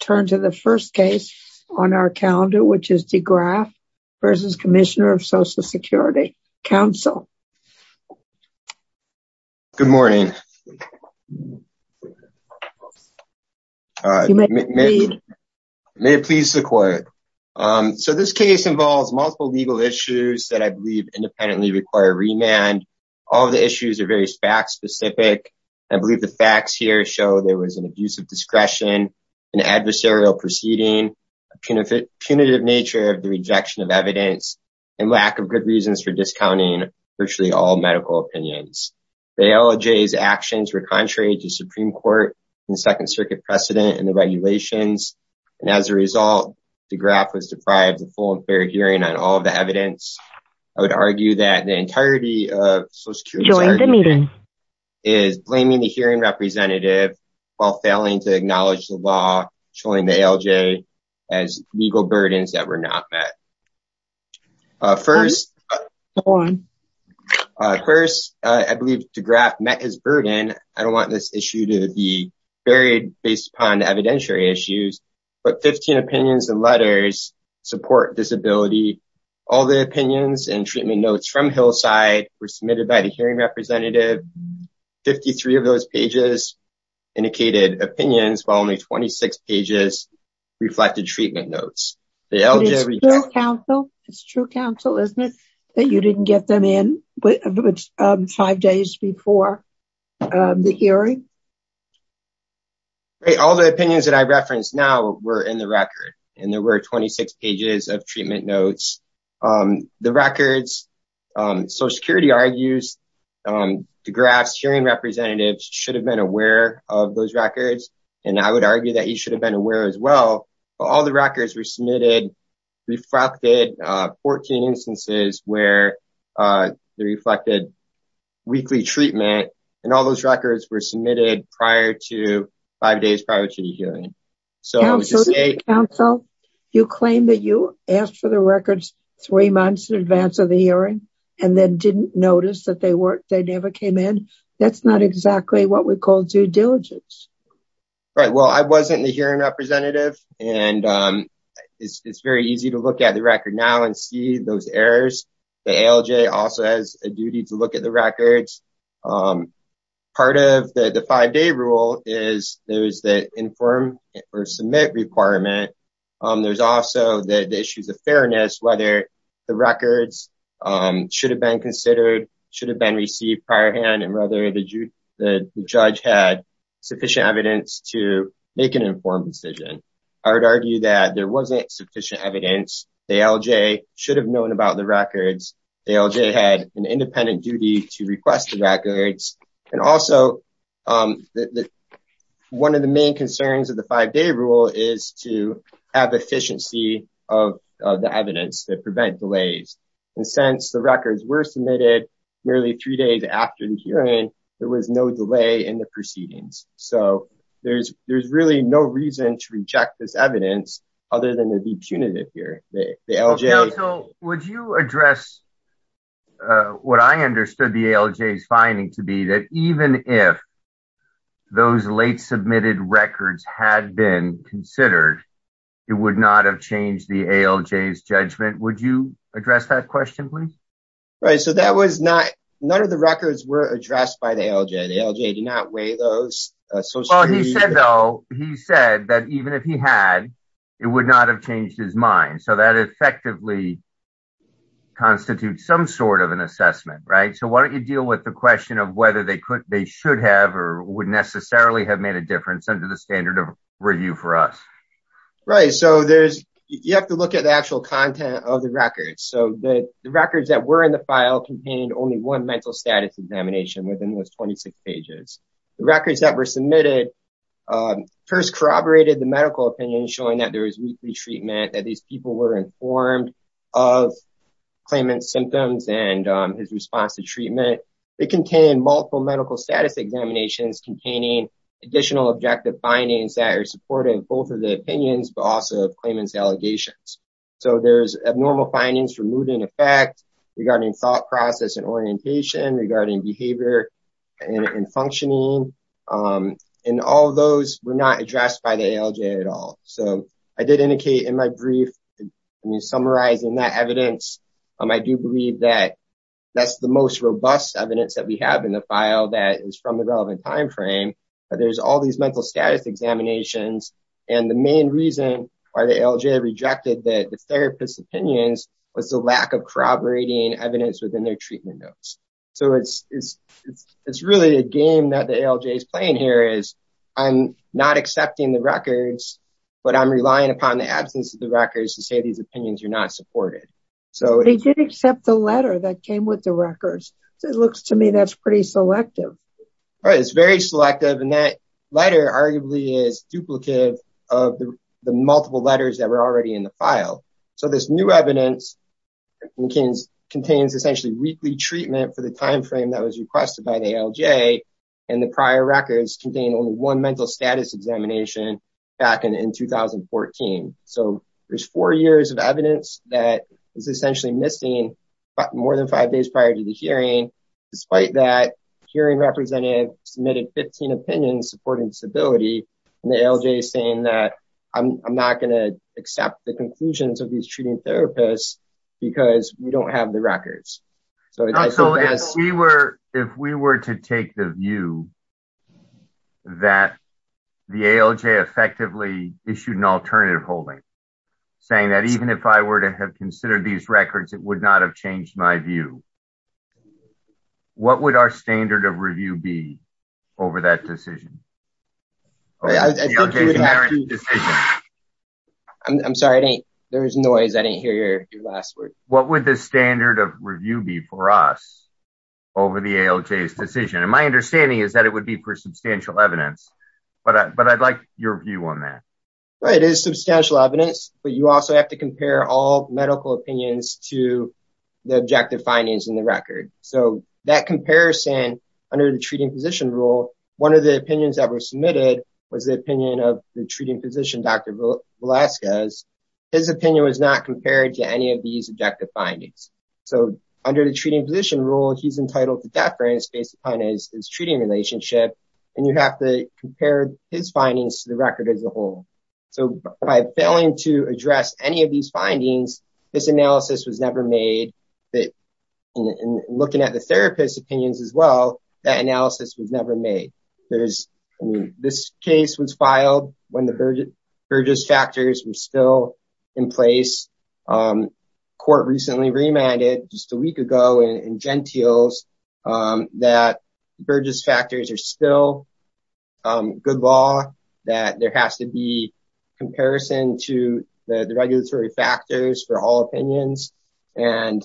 turn to the first case on our calendar, which is Degraff v. Commissioner of Social Security Council. Good morning. You may proceed. May it please the court. So this case involves multiple legal issues that I believe independently require remand. All of the issues are very fact specific. I believe the facts here show there was an abuse of discretion, an adversarial proceeding, a punitive nature of the rejection of evidence, and lack of good reasons for discounting virtually all medical opinions. The ALJ's actions were contrary to Supreme Court and Second Circuit precedent in the regulations. And as a result, Degraff was deprived of full and fair hearing on all of the evidence. I would argue that the entirety of Social Security's argument is blaming the hearing representative while failing to acknowledge the law, showing the ALJ as legal burdens that were not met. First, I believe Degraff met his burden. I don't want this issue to be buried based upon evidentiary issues, but 15 opinions and letters support disability. All the opinions and treatment notes from Hillside were submitted by the hearing representative. Fifty-three of those pages indicated opinions, while only 26 pages reflected treatment notes. The ALJ... It's true counsel, isn't it, that you didn't get them in five days before the hearing? All the opinions that I referenced now were in the record, and there were 26 pages of those notes. The records, Social Security argues Degraff's hearing representative should have been aware of those records, and I would argue that he should have been aware as well. All the records were submitted, reflected 14 instances where they reflected weekly treatment, and all those records were submitted five days prior to the hearing. Counsel, you claim that you asked for the records three months in advance of the hearing, and then didn't notice that they never came in. That's not exactly what we call due diligence. Right, well, I wasn't the hearing representative, and it's very easy to look at the record now and see those errors. The ALJ also has a duty to look at the records. Part of the five-day rule is there is the inform or submit requirement. There's also the issues of fairness, whether the records should have been considered, should have been received priorhand, and whether the judge had sufficient evidence to make an informed decision. I would argue that there wasn't sufficient evidence. The ALJ should have known about the records. The ALJ had an independent duty to request the records, and also one of the main concerns of the five-day rule is to have efficiency of the evidence to prevent delays, and since the records were submitted nearly three days after the hearing, there was no delay in the proceedings. So, there's really no reason to reject this evidence other than to be punitive here. So, would you address what I understood the ALJ's finding to be that even if those late submitted records had been considered, it would not have changed the ALJ's judgment? Would you address that question, please? Right, so none of the records were addressed by the ALJ. The ALJ did not weigh those. He said that even if he had, it would not have changed his mind. So, that effectively constitutes some sort of an assessment, right? So, why don't you deal with the question of whether they should have or would necessarily have made a difference under the standard of review for us? Right, so you have to look at the actual content of the records. So, the records that were in the file contained only one mental status examination within those 26 pages. The records that were submitted first corroborated the medical opinion showing that there was treatment, that these people were informed of claimant's symptoms and his response to treatment. It contained multiple medical status examinations containing additional objective findings that are supportive of both of the opinions but also of claimant's allegations. So, there's abnormal findings for mood and effect regarding thought process and orientation, regarding behavior and functioning. And all of those were not addressed by the ALJ at all. So, I did indicate in my brief, I mean, summarizing that evidence, I do believe that that's the most robust evidence that we have in the file that is from the relevant time frame, but there's all these mental status examinations. And the main reason why the ALJ rejected the therapist's opinions was the lack of corroborating evidence within their treatment notes. So, it's really a game that the ALJ is playing here is, I'm not accepting the records, but I'm relying upon the absence of the records to say these opinions are not supported. So, they did accept the letter that came with the records. So, it looks to me that's pretty selective. It's very selective and that letter arguably is duplicative of the multiple letters that were already in the file. So, this new evidence contains essentially weekly treatment for the time frame that was requested by the ALJ and the prior records contain only one mental status examination back in 2014. So, there's four years of evidence that is essentially missing more than five days prior to the hearing. Despite that, the hearing representative submitted 15 opinions supporting stability and the ALJ saying that I'm not going to accept the conclusions of these treating therapists because we don't have the records. So, if we were to take the view that the ALJ effectively issued an alternative holding saying that even if I were to have considered these records, it would not have changed my view, what would our standard of review be over that decision? I'm sorry, there was noise. I didn't hear your last word. What would the standard of review be for us over the ALJ's decision? And my understanding is that it would be for substantial evidence, but I'd like your view on that. Right. It is substantial evidence, but you also have to compare all medical opinions to the objective findings in the record. So, that comparison under the treating physician rule, one of the opinions that were submitted was the opinion of the treating physician, Dr. Velasquez. His opinion was not compared to any of these objective findings. So, under the treating physician rule, he's entitled to deference based upon his treating relationship, and you have to compare his findings to the record as a whole. So, by failing to address any of these findings, this analysis was never made that looking at the therapist opinions as well, that analysis was never made. This case was filed when the Burgess factors were still in place. Court recently remanded just a week ago in Gentiles that Burgess factors are still good law, that there has to be comparison to the regulatory factors for all opinions. And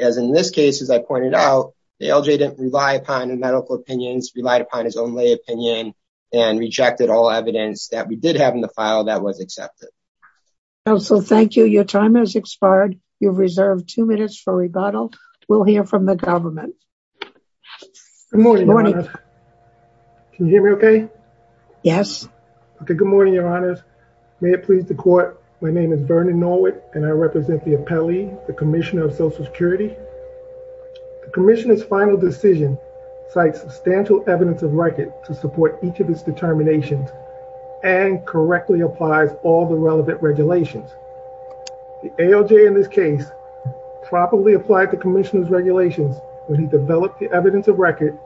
as in this case, as I pointed out, the LJ didn't rely upon the medical opinions, relied upon his own lay opinion, and rejected all evidence that we did have in the file that was accepted. Counsel, thank you. Your time has expired. You've reserved two minutes for rebuttal. We'll hear from the government. Good morning. Can you hear me okay? Yes. Okay. Good morning, Your Honors. May it please the court. My name is Vernon Norwood, and I represent the appellee, the Commissioner of Social Security. The Commissioner's final decision cites substantial evidence of record to support each of his determinations and correctly applies all the relevant regulations. The ALJ in this case properly applied the Commissioner's regulations when he developed the evidence of record,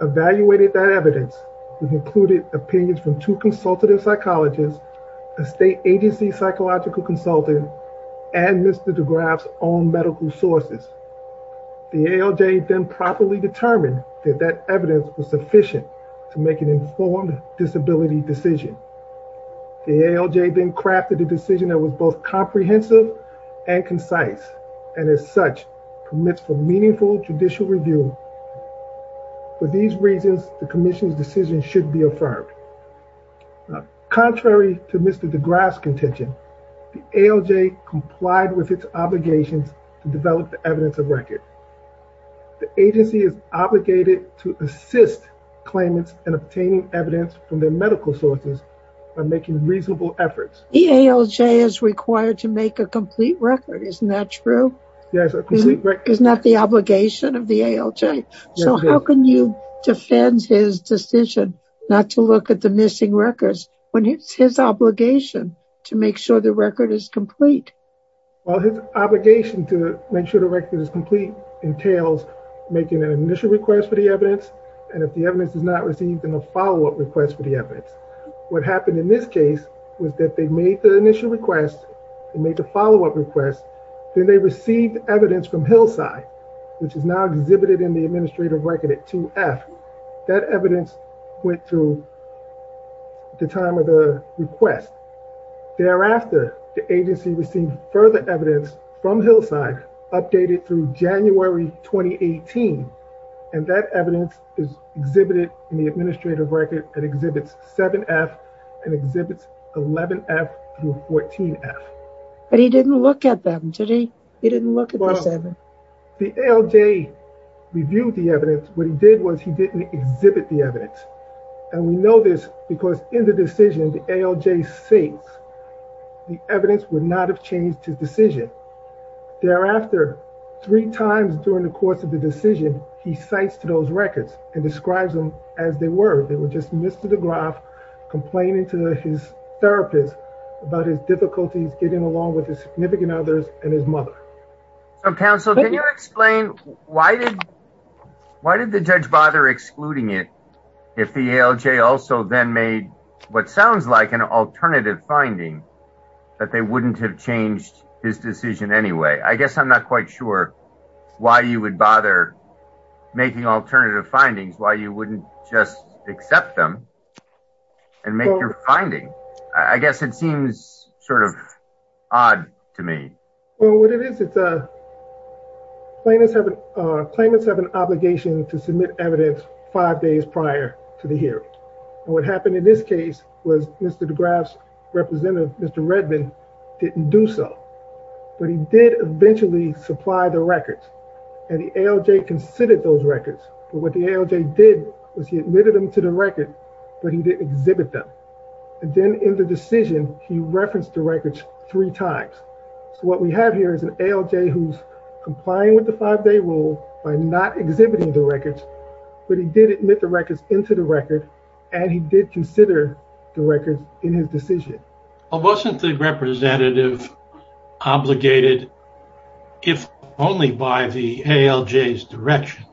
evaluated that evidence, which included opinions from two consultative psychologists, a state agency psychological consultant, and Mr. DeGraff's own medical sources. The ALJ then properly determined that that evidence was sufficient to make an informed disability decision. The ALJ then crafted a decision that was both comprehensive and concise, and as such, permits for meaningful judicial review. For these reasons, the Commissioner's decision should be affirmed. Contrary to Mr. DeGraff's contention, the ALJ complied with its obligations to develop the evidence of record. The agency is obligated to assist claimants in obtaining evidence from their medical sources by making reasonable efforts. The ALJ is required to make a complete record, isn't that true? Yes, a complete record. Isn't that the obligation of the ALJ? So how can you defend his decision not to look at the missing records? It's his obligation to make sure the record is complete. Well, his obligation to make sure the record is complete entails making an initial request for the evidence, and if the evidence is not received, then a follow-up request for the evidence. What happened in this case was that they made the initial request, they made the follow-up request, then they received evidence from Hillside, which is now exhibited in the administrative record at 2F. That evidence went through at the time of the request. Thereafter, the agency received further evidence from Hillside, updated through January 2018, and that evidence is exhibited in the administrative record at Exhibits 7F and Exhibits 11F through 14F. But he didn't look at them, did he? He didn't look at the seven. The ALJ reviewed the evidence. What he did was he didn't exhibit the evidence, and we know this because in the decision, the ALJ states the evidence would not have changed his decision. Thereafter, three times during the course of the decision, he cites those records and describes them as they were. They were just Mr. DeGraff complaining to his therapist about his difficulties getting along with his significant others and his mother. So, counsel, can you explain why did the judge bother excluding it if the ALJ also then made what sounds like an alternative finding that they wouldn't have changed his decision anyway? I guess I'm not quite sure why you would bother making alternative findings, why you wouldn't just accept them and make your finding. I guess it seems sort of odd to me. Well, what it is, it's claimants have an obligation to submit evidence five days prior to the hearing. And what happened in this case was Mr. DeGraff's representative, Mr. Redmond, didn't do so. But he did eventually supply the records, and the ALJ considered those records. But what the ALJ did was he admitted them to the record, but he didn't exhibit them. And then in the decision, he referenced the records three times. So what we have here is an ALJ who's complying with the five-day rule by not exhibiting the records, but he did admit the records into the record, and he did consider the records in his decision. Well, wasn't the representative obligated, if only by the ALJ's direction,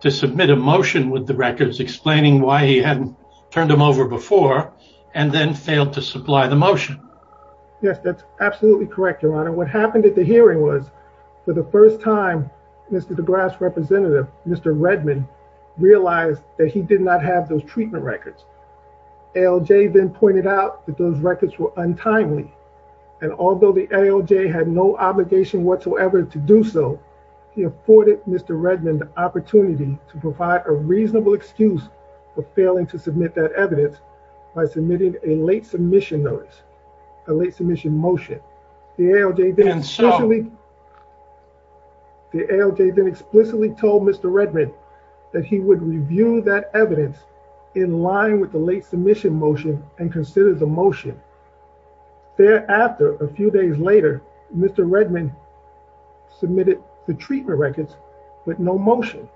to submit a motion with the records explaining why he hadn't turned them over before and then failed to supply the motion? Yes, that's absolutely correct, Your Honor. What happened at the hearing was, for the first time, Mr. DeGraff's representative, Mr. Redmond, realized that he did not have those treatment records. ALJ then pointed out that those records were untimely. And although the ALJ had no obligation whatsoever to do so, he afforded Mr. Redmond the opportunity to provide a reasonable excuse for failing to submit that evidence by submitting a late submission notice, a late submission motion. The ALJ then explicitly told Mr. Redmond that he would review that evidence in line with the late submission motion and consider the motion. Thereafter, a few days later, Mr. Redmond submitted the treatment records with no motion.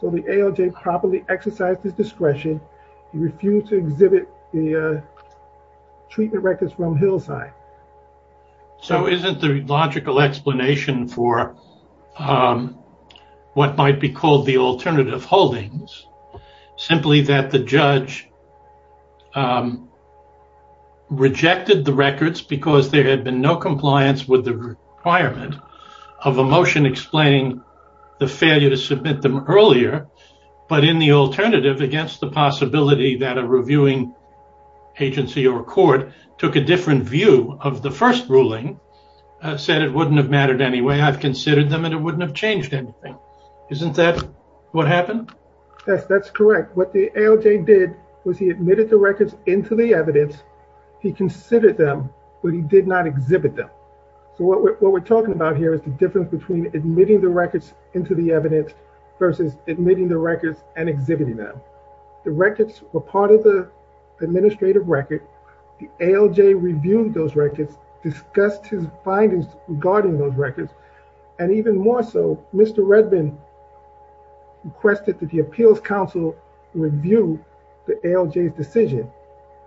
So the ALJ properly exercised his discretion. He refused to exhibit the treatment records from Hillside. So isn't the logical explanation for what might be called the alternative holdings simply that the judge rejected the records because there had been no compliance with the requirement of a motion explaining the failure to submit them earlier, but in the alternative, against the possibility that a reviewing agency or court took a different view of the first ruling, said it wouldn't have mattered anyway. I've considered them and it wouldn't have changed anything. Isn't that what happened? Yes, that's correct. What the ALJ did was he admitted the records into the evidence. He considered them, but he did not exhibit them. So what we're talking about here is the difference between admitting the records into the evidence versus admitting the records and exhibiting them. The records were part of the administrative record. The ALJ reviewed those records, discussed his findings regarding those records. And even more so, Mr. Redmond requested that the appeals council review the ALJ's decision.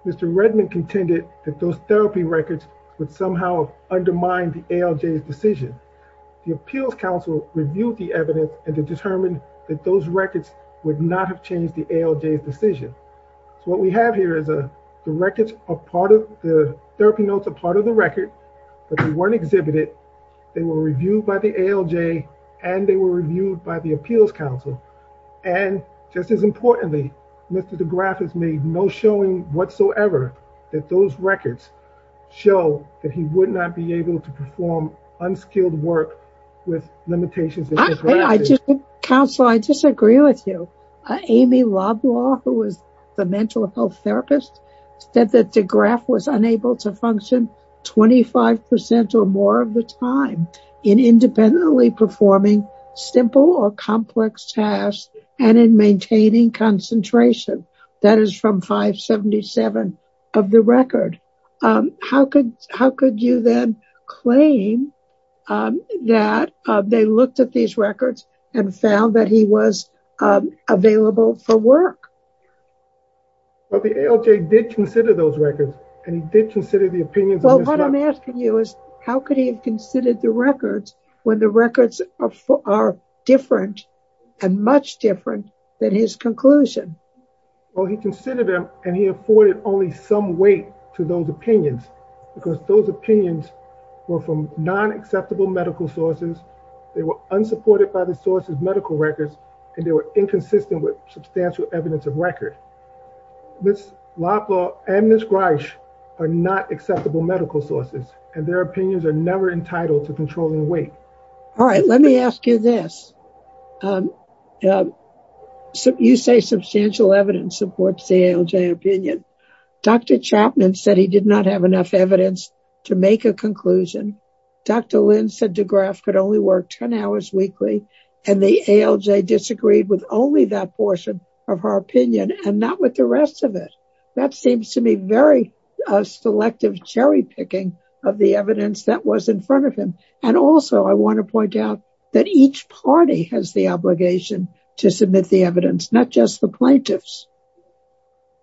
Mr. Redmond contended that those therapy records would somehow undermine the ALJ's decision. The appeals council reviewed the evidence and determined that those records would not have changed the ALJ's decision. So what we have here is the therapy notes are part of the record, but they weren't exhibited. They were reviewed by the ALJ and they were reviewed by the appeals council. And just as importantly, Mr. DeGraff has made no showing whatsoever that those records show that he would not be able to perform unskilled work with limitations. I just, counsel, I disagree with you. Amy Loblaw, who was the mental health therapist, said that DeGraff was unable to function 25% or more of the time in independently performing simple or complex tasks and in maintaining concentration. That is from 577 of the record. How could you then claim that they looked at these records and found that he was available for work? Well, the ALJ did consider those records and he did consider the opinions. Well, what I'm asking you is how could he have considered the records when the records are different and much different than his conclusion? Well, he considered them and he afforded only some weight to those opinions because those opinions were from non-acceptable medical sources. They were unsupported by the source's medical records and they were inconsistent with substantial evidence of record. Ms. Loblaw and Ms. Greisch are not acceptable medical sources and their opinions are never entitled to controlling weight. All right, let me ask you this. You say substantial evidence supports the ALJ opinion. Dr. Chapman said he did not have enough evidence to make a conclusion. Dr. Lynn said DeGraff could only work 10 hours weekly and the ALJ disagreed with only that portion of her opinion and not with the rest of it. That seems to me very selective cherry picking of the evidence that was in front of him. And also, I want to point out that each party has the obligation to submit the evidence, not just the plaintiffs.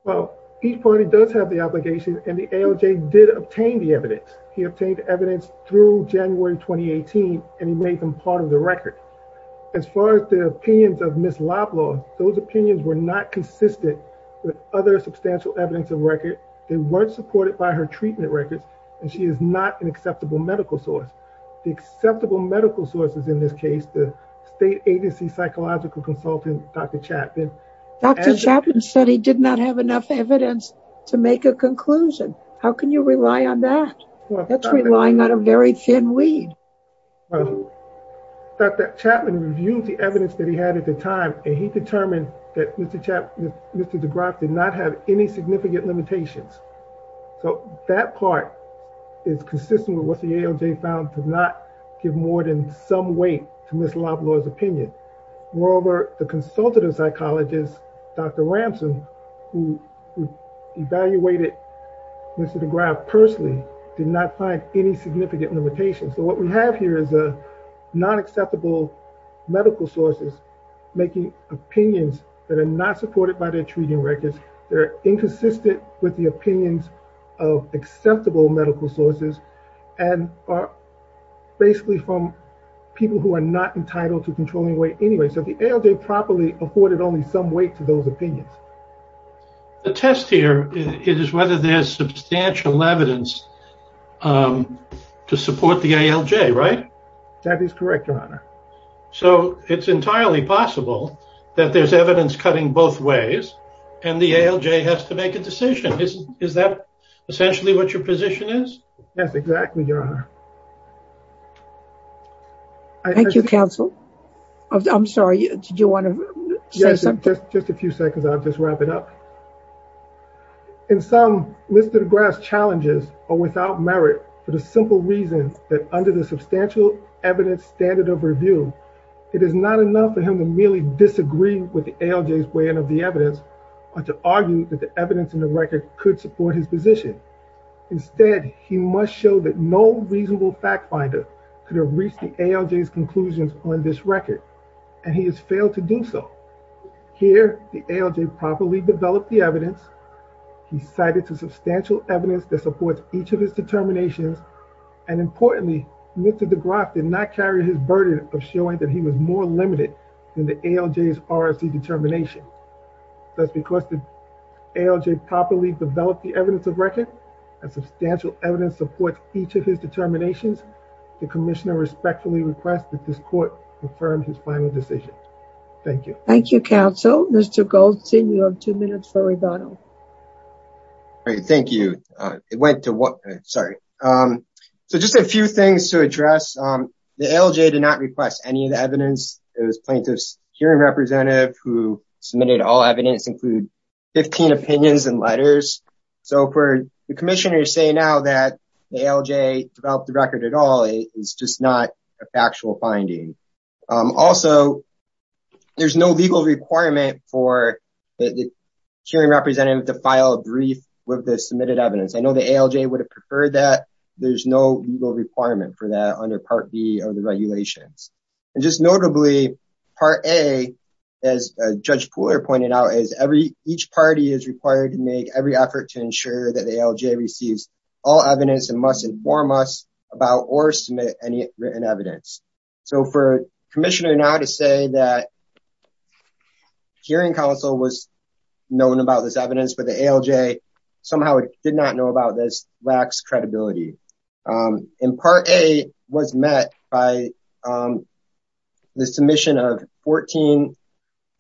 Well, each party does have the obligation and the ALJ did obtain the evidence. He obtained evidence through January 2018 and he made them part of the record. As far as the opinions of Ms. Loblaw, those opinions were not consistent with other substantial evidence of record. They weren't supported by her treatment records and she is not an acceptable medical source. The acceptable medical sources in this case, the state agency psychological consultant, Dr. Chapman. Dr. Chapman said he did not have enough evidence to make a conclusion. How can you rely on that? That's relying on a very thin lead. Dr. Chapman reviewed the evidence that he had at the time and he determined that Mr. DeGraff did not have any significant limitations. So that part is consistent with what the ALJ found to not give more than some weight to Ms. Loblaw's opinion. Moreover, the consultative psychologist, Dr. Ramson, who evaluated Mr. DeGraff personally did not find any significant limitations. So what we have here is a non-acceptable medical sources making opinions that are not supported by their treating records. They're inconsistent with the opinions of acceptable medical sources and are basically from people who are not entitled to controlling weight anyway. So the ALJ properly afforded only some weight to those opinions. The test here is whether there's substantial evidence to support the ALJ, right? That is correct, your honor. So it's entirely possible that there's evidence cutting both ways and the ALJ has to make a decision. Is that essentially what your position is? Yes, exactly, your honor. Thank you, counsel. I'm sorry, did you want to say something? Just a few seconds. I'll just wrap it up. In some, Mr. DeGraff's challenges are without merit for the simple reasons that under the view, it is not enough for him to merely disagree with the ALJ's weighing of the evidence or to argue that the evidence in the record could support his position. Instead, he must show that no reasonable fact finder could have reached the ALJ's conclusions on this record and he has failed to do so. Here, the ALJ properly developed the evidence. He cited to substantial evidence that supports each of his determinations. And importantly, Mr. DeGraff did not carry his burden of showing that he was more limited than the ALJ's RFC determination. That's because the ALJ properly developed the evidence of record and substantial evidence supports each of his determinations. The commissioner respectfully requests that this court confirm his final decision. Thank you. Thank you, counsel. Mr. Goldstein, you have two minutes for rebuttal. All right, thank you. It went to what? Sorry. So, just a few things to address. The ALJ did not request any of the evidence. It was plaintiff's hearing representative who submitted all evidence include 15 opinions and letters. So, for the commissioner to say now that the ALJ developed the record at all is just not a factual finding. Also, there's no legal requirement for the hearing representative to file a brief with the submitted evidence. I know the ALJ would have preferred that. There's no legal requirement for that under Part B of the regulations. And just notably, Part A, as Judge Pooler pointed out, is each party is required to make every effort to ensure that the ALJ receives all evidence and must inform us about or submit any written evidence. So, for commissioner now to say that hearing counsel was known about this evidence, but the ALJ somehow did not know about this lacks credibility. And Part A was met by the submission of 14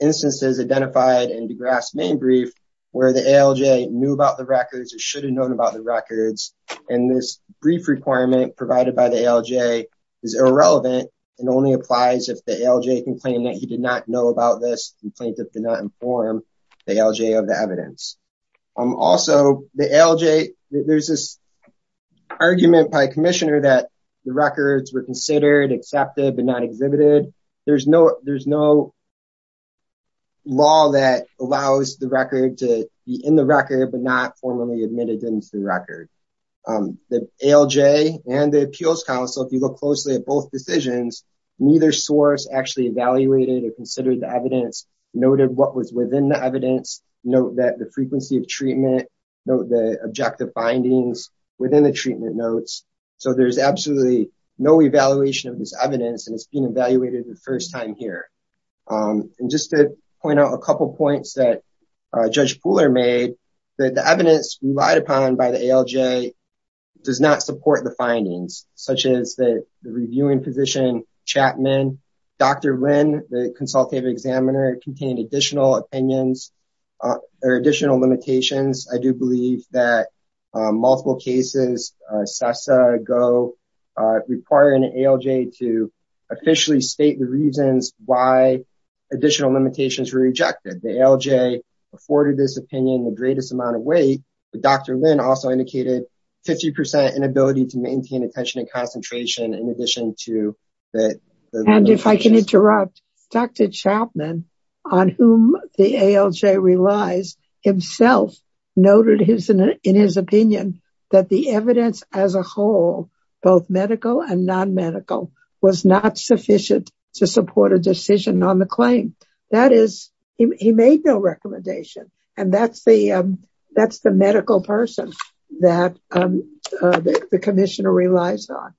instances identified in DeGrasse's main brief where the ALJ knew about the records or should have known about the records. And this brief requirement provided by the ALJ is irrelevant and only applies if the ALJ can claim that he did not know about this, the plaintiff did not inform the ALJ of the evidence. Also, the ALJ, there's this argument by commissioner that the records were considered, accepted, but not exhibited. There's no law that allows the record to be in the record, but not formally admitted into the record. The ALJ and the appeals counsel, if you look closely at both decisions, neither source actually evaluated or considered the evidence, noted what was within the evidence, note that frequency of treatment, note the objective findings within the treatment notes. So, there's absolutely no evaluation of this evidence and it's been evaluated the first time here. And just to point out a couple of points that Judge Pooler made, that the evidence relied upon by the ALJ does not support the findings such as the reviewing position, Chapman, Dr. Lynn's opinions, there are additional limitations. I do believe that multiple cases, CESA, GO, requiring an ALJ to officially state the reasons why additional limitations were rejected. The ALJ afforded this opinion the greatest amount of weight, but Dr. Lynn also indicated 50% inability to maintain attention and concentration in addition to that. And if I can interrupt, Dr. Chapman, on whom the ALJ relies, himself noted in his opinion that the evidence as a whole, both medical and non-medical, was not sufficient to support a decision on the claim. That is, he made no recommendation. And that's the medical person that the commissioner relies on.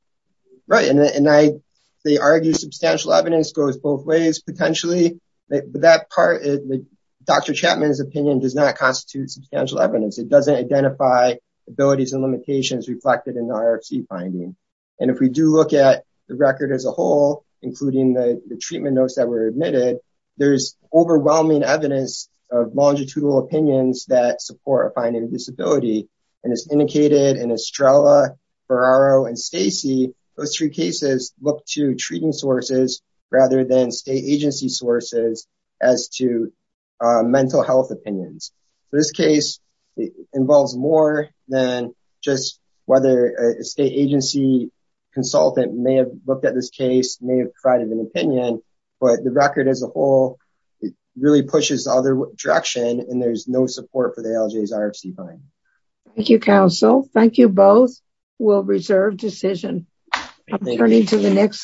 Right, and they argue substantial evidence goes both ways potentially, but that part, Dr. Chapman's opinion does not constitute substantial evidence. It doesn't identify abilities and limitations reflected in the IRFC finding. And if we do look at the record as a whole, including the treatment notes that were admitted, there's overwhelming evidence of longitudinal opinions that support a finding of disability. And as indicated in Estrella, Ferraro, and Stacy, those three cases look to treating sources rather than state agency sources as to mental health opinions. This case involves more than just whether a state agency consultant may have looked at this case, may have provided an opinion, but the record as a whole really pushes the other direction and there's no support for the ALJ's IRFC finding. Thank you, counsel. Thank you both. We'll reserve decision. I'm turning to the next case.